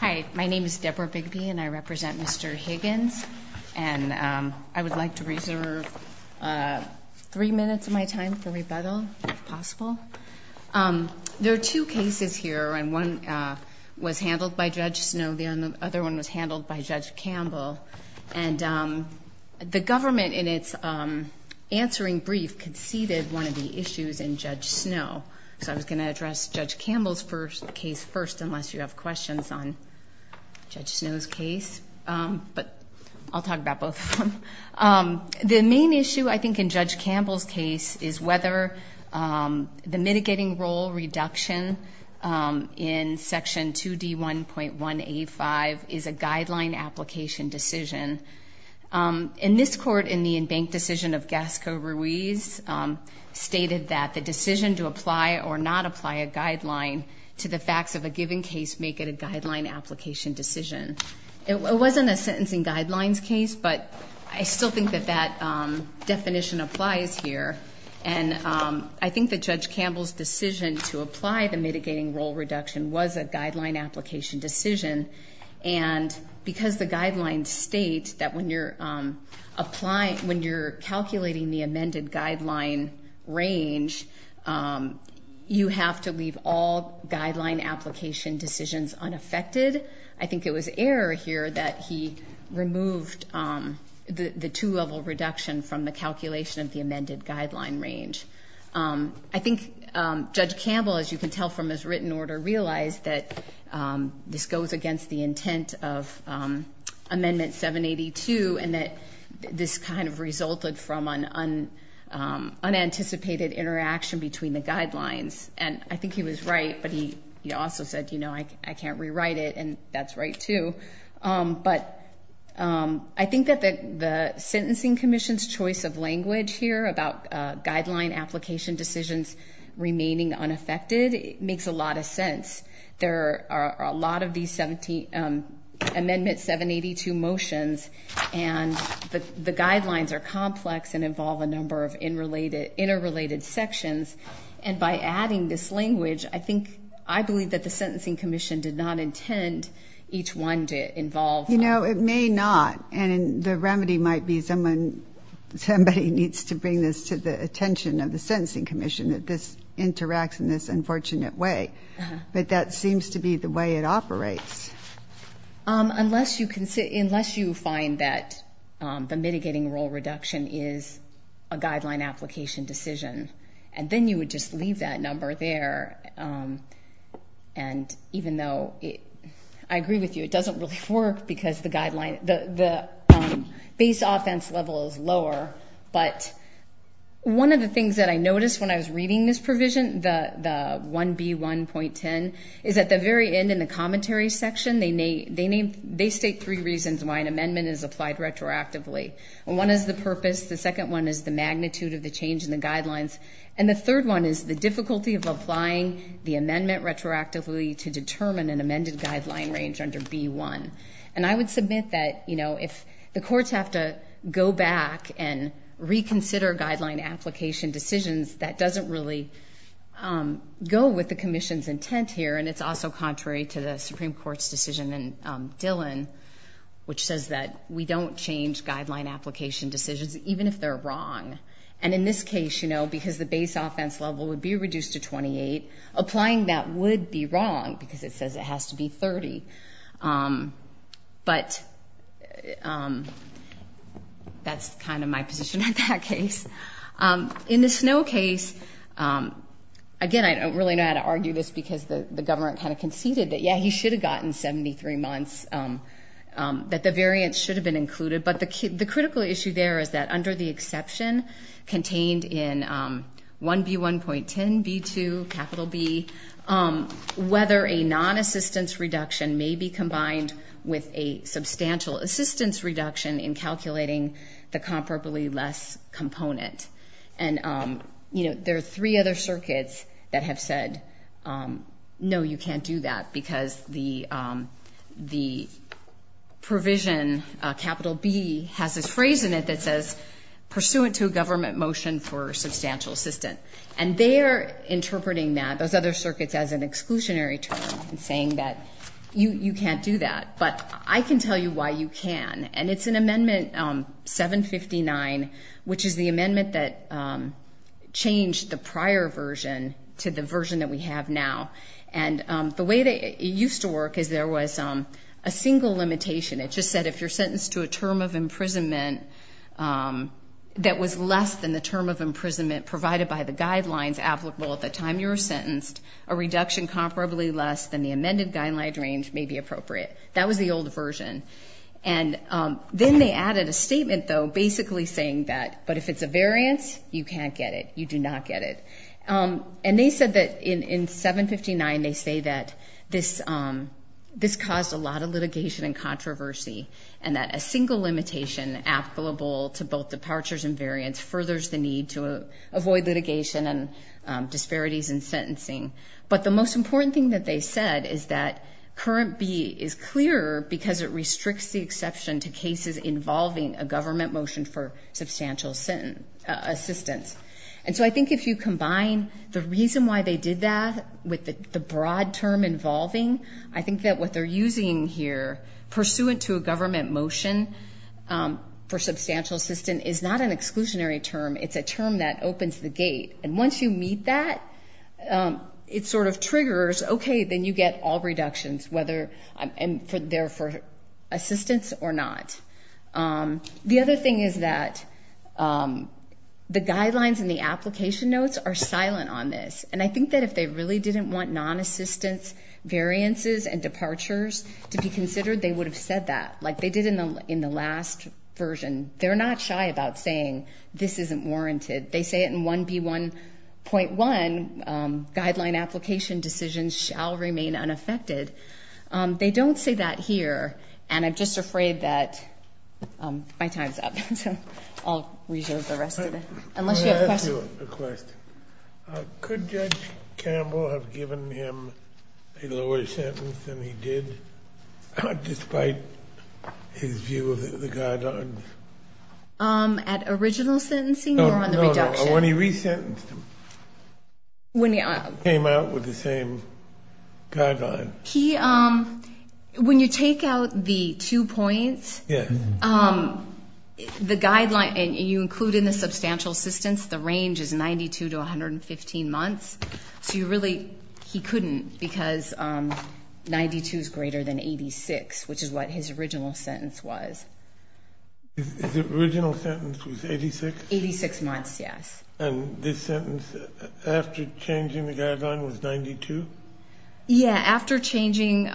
Hi, my name is Deborah Bigby and I represent Mr. Higgins, and I would like to reserve three minutes of my time for rebuttal, if possible. There are two cases here, and one was handled by Judge Snow, the other one was handled by Judge Campbell, and the government in its answering brief conceded one of the issues in Judge Snow. So I was going to address Judge Campbell's case first, unless you have questions on Judge Snow's case, but I'll talk about both of them. The main issue, I think, in Judge Campbell's case is whether the mitigating role reduction in Section 2D1.185 is a guideline application decision. In this court, in the to the facts of a given case make it a guideline application decision. It wasn't a sentencing guidelines case, but I still think that that definition applies here, and I think that Judge Campbell's decision to apply the mitigating role reduction was a guideline application decision, and because the guidelines state that when you're calculating the amended guideline range, you have to leave all guideline application decisions unaffected. I think it was error here that he removed the two-level reduction from the calculation of the amended guideline range. I think Judge Campbell, as you can tell from his written order, realized that this goes against the intent of Amendment 782, and that this kind of resulted from an unanticipated interaction between the guidelines, and I think he was right, but he also said, you know, I can't rewrite it, and that's right, too. But I think that the Sentencing Commission's choice of language here about guideline application decisions remaining unaffected makes a lot of sense. There are a lot of these Amendment 782 motions, and the guidelines are complex and involve a number of interrelated sections, and by adding this language, I think, I believe that the Sentencing Commission did not intend each one to involve... You know, it may not, and the remedy might be somebody needs to bring this to the attention of the Sentencing Commission that this interacts in this unfortunate way, but that seems to be the way it operates. Unless you find that the mitigating role reduction is a guideline application decision, and then you would just leave that number there, and even though I agree with you, it doesn't really work because the baseline offense level is lower, but one of the things that I noticed when I was reading this provision, the 1B1.10, is at the very end in the commentary section, they state three reasons why an amendment is applied retroactively. One is the purpose, the second one is the magnitude of the change in the guidelines, and the third one is the difficulty of applying the amendment retroactively to determine an amended guideline range under 1B1, and I would submit that, you know, if the courts have to go back and reconsider guideline application decisions, that doesn't really go with the Commission's intent here, and it's also contrary to the Supreme Court's decision in Dillon, which says that we don't change guideline application decisions, even if they're wrong, and in this case, you know, because the base offense level would be reduced to 28, applying that would be wrong because it says it has to be 30, but that's kind of my position in that case. In the Snow case, again, I don't really know how to argue this because the government kind of conceded that, yeah, he should have gotten 73 months, that the variance should have been included, but the critical issue there is that under the exception contained in 1B1.10B2, capital B, whether a non-assistance reduction may be combined with a substantial assistance reduction in calculating the comparably less component, and, you know, there are three other circuits that have said, no, you can't do that because the provision, capital B, has this phrase in it that says, pursuant to a government motion for substantial assistance, and they are interpreting that, those other circuits, as an exclusionary term and saying that you can't do that, but I can tell you why you can, and it's an amendment, 759, which is the amendment that changed the prior version to the version that we have now, and the way that it used to work is there was a single limitation. It just said if you're sentenced to a term of imprisonment that was less than the term of imprisonment provided by the guidelines applicable at the time you were sentenced, a reduction comparably less than the amended guideline range may be appropriate. That was the old version, and then they added a statement, though, basically saying that, but if it's a variance, you can't get it. You do not get it, and they said that in 759, they say that this caused a lot of litigation and controversy, and that a single limitation applicable to both departures and variance furthers the avoid litigation and disparities in sentencing, but the most important thing that they said is that current B is clearer because it restricts the exception to cases involving a government motion for substantial assistance, and so I think if you combine the reason why they did that with the broad term involving, I think that what they're using here, pursuant to a government motion for substantial assistance, is not an exclusionary term. It's a term that opens the gate, and once you meet that, it sort of triggers, okay, then you get all reductions, whether they're for assistance or not. The other thing is that the guidelines and the application notes are silent on this, and I think that if they really didn't want non-assistance variances and departures to be considered, they would have said that, like they did in the last version. They're not shy about saying, this isn't warranted. They say it in 1B1.1, guideline application decisions shall remain unaffected. They don't say that here, and I'm just afraid that my time's up, so I'll reserve the rest of it, unless you have a question. I have a question. Could Judge Campbell have given him a lower sentence than he did, despite his view of the guidelines? At original sentencing or on the reduction? No, no. When he resentenced him. When he... Came out with the same guidelines. He, when you take out the two points... Yes. ...the guideline, and you include in the substantial assistance, the range is 92 to 115 months, so you really, he couldn't, because 92 is greater than 86, which is what his original sentence was. His original sentence was 86? 86 months, yes. And this sentence, after changing the guideline, was 92? Yeah, after changing,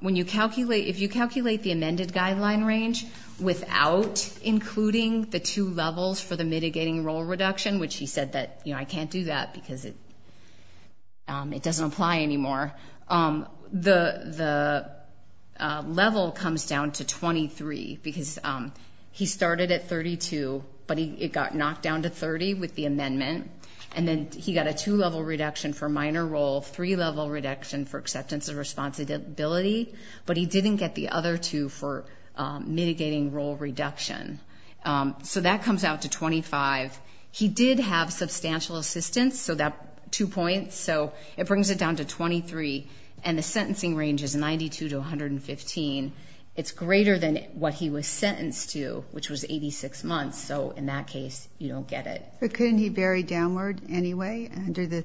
when you calculate, if you calculate the amended guideline range without including the two levels for the mitigating role reduction, which he said that, you know, I can't do that, because it doesn't apply anymore, the level comes down to 23, because he started at 32, but it got knocked down to 30 with the amendment, and then he got a two-level reduction for minor role, three-level reduction for acceptance of responsibility, but he didn't get the other two for mitigating role reduction, so that comes out to 25. He did have substantial assistance, so that two points, so it brings it down to 23, and the sentencing range is 92 to 115. It's greater than what he was sentenced to, which was 86 months, so in that case, you don't get it. But couldn't he vary downward anyway, under the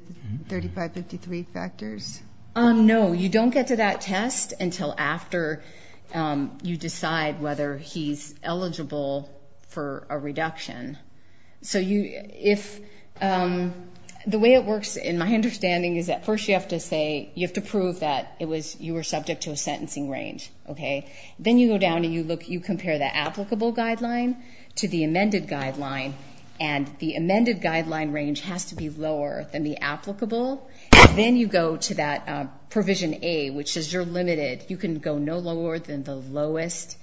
3553 factors? No, you don't get to that test until after you decide whether he's eligible for a reduction. So you, if, the way it works in my understanding is that first you have to say, you have to prove that it was, you were subject to a sentencing range, okay? Then you go down and you look, you compare the applicable guideline to the amended guideline, and the amended guideline range has to be lower than the applicable, then you go to that provision A, which says you're limited, you can go no lower than the lowest,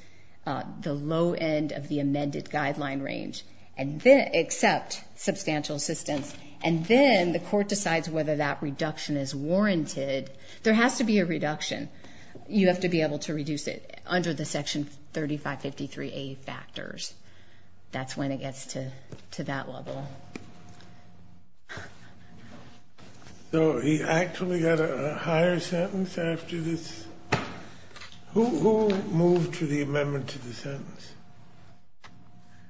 the low end of the amended guideline range, and then, except substantial assistance, and then the court decides whether that reduction is warranted. There has to be a reduction. You have to be able to reduce it under the section 3553A factors. That's when it gets to that level. So he actually got a higher sentence after this? Who moved to the amendment to the sentence?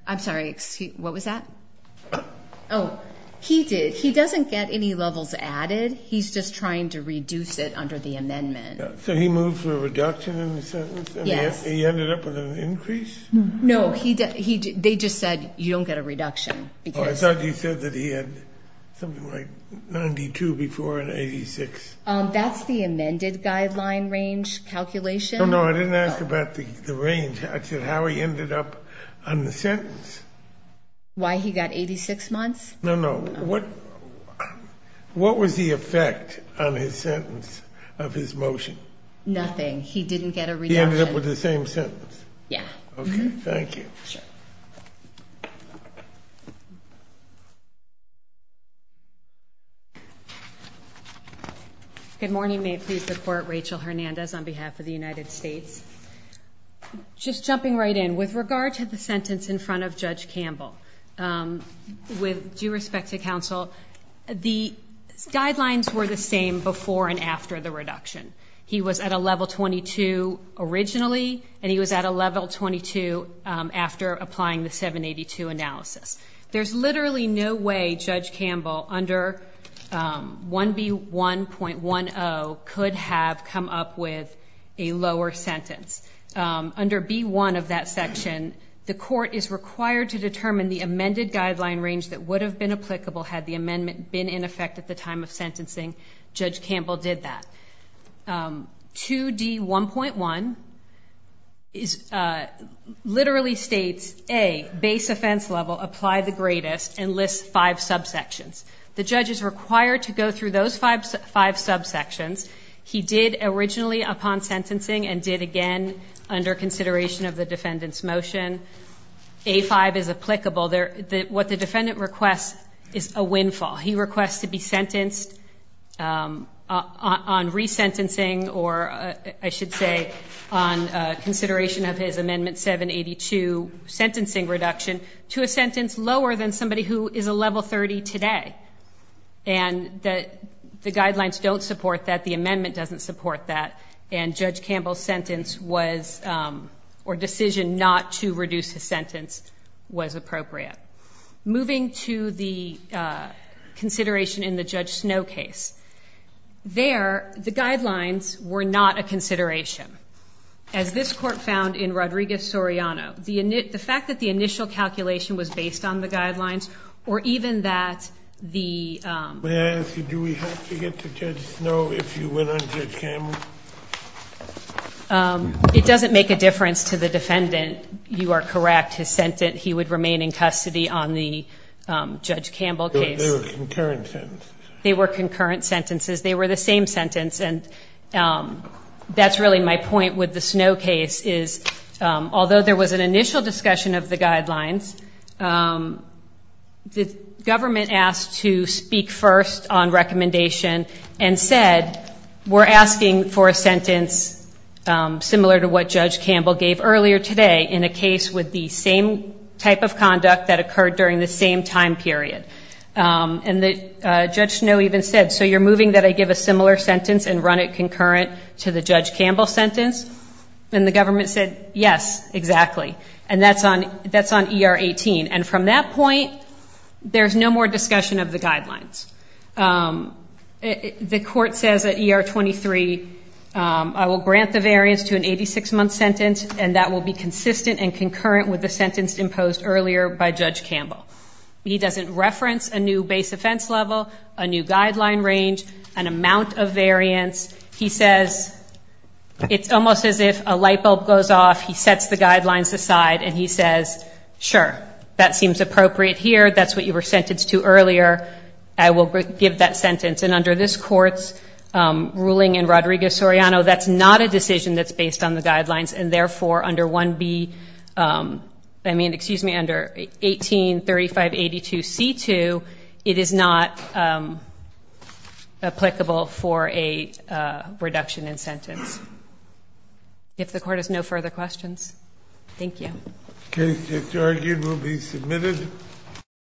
I'm sorry, what was that? Oh, he did. He doesn't get any levels added. He's just trying to reduce it under the amendment. So he moved for a reduction in the sentence? Yes. He ended up with an increase? No, they just said you don't get a reduction. I thought you said that he had something like 92 before and 86. That's the amended guideline range calculation. No, no, I didn't ask about the range. I said how he ended up on the sentence. Why he got 86 months? No, no, what was the effect on his sentence of his motion? Nothing. He didn't get a reduction. He ended up with the same sentence? Yeah. Okay, thank you. Sure. Good morning. May it please the Court. Rachel Hernandez on behalf of the United States. Just jumping right in. With regard to the sentence in front of Judge Campbell, with due respect to counsel, the guidelines were the same before and after the reduction. He was at a level 22 originally, and he was at a level 22 after applying the 782 analysis. There's literally no way Judge Campbell under 1B1.10 could have come up with a lower sentence. Under B1 of that section, the Court is required to determine the amended guideline range that would have been applicable had the amendment been in effect at the time of sentencing. Judge Campbell did that. 2D1.1 literally states, A, base offense level, apply the greatest, and lists five subsections. The judge is required to go through those five subsections. He did originally upon sentencing and did again under consideration of the defendant's motion. A5 is applicable. What the defendant requests is a windfall. He requests to be sentenced on resentencing or, I should say, on consideration of his Amendment 782 sentencing reduction to a sentence lower than somebody who is a level 30 today. And the guidelines don't support that, the amendment doesn't support that, and Judge Campbell's sentence was, or decision not to reduce his sentence was appropriate. Moving to the consideration in the Judge Snow case. There, the guidelines were not a consideration. As this Court found in Rodriguez-Soriano, the fact that the initial calculation was based on the guidelines or even that the... May I ask you, do we have to get to Judge Snow if you went on Judge Campbell? It doesn't make a difference to the defendant. You are correct. His sentence, he would remain in custody on the Judge Campbell case. They were concurrent sentences. They were concurrent sentences. They were the same sentence, and that's really my point with the Snow case is although there was an initial discussion of the guidelines, the government asked to speak first on recommendation and said we're asking for a sentence similar to what Judge Campbell gave earlier today in a case with the same type of conduct that occurred during the same time period. And Judge Snow even said, so you're moving that I give a similar sentence and run it concurrent to the Judge Campbell sentence? And the government said, yes, exactly. And that's on ER 18. And from that point, there's no more discussion of the guidelines. The court says at ER 23, I will grant the variance to an 86-month sentence, and that will be consistent and concurrent with the sentence imposed earlier by Judge Campbell. He doesn't reference a new base offense level, a new guideline range, an amount of variance. He says it's almost as if a light bulb goes off. He sets the guidelines aside, and he says, sure, that seems appropriate here. That's what you were sentenced to earlier. I will give that sentence. And under this court's ruling in Rodrigo Soriano, that's not a decision that's based on the guidelines, and therefore under 1B, I mean, excuse me, under 183582C2, it is not applicable for a reduction in sentence. If the court has no further questions. Thank you. The case is argued and will be submitted.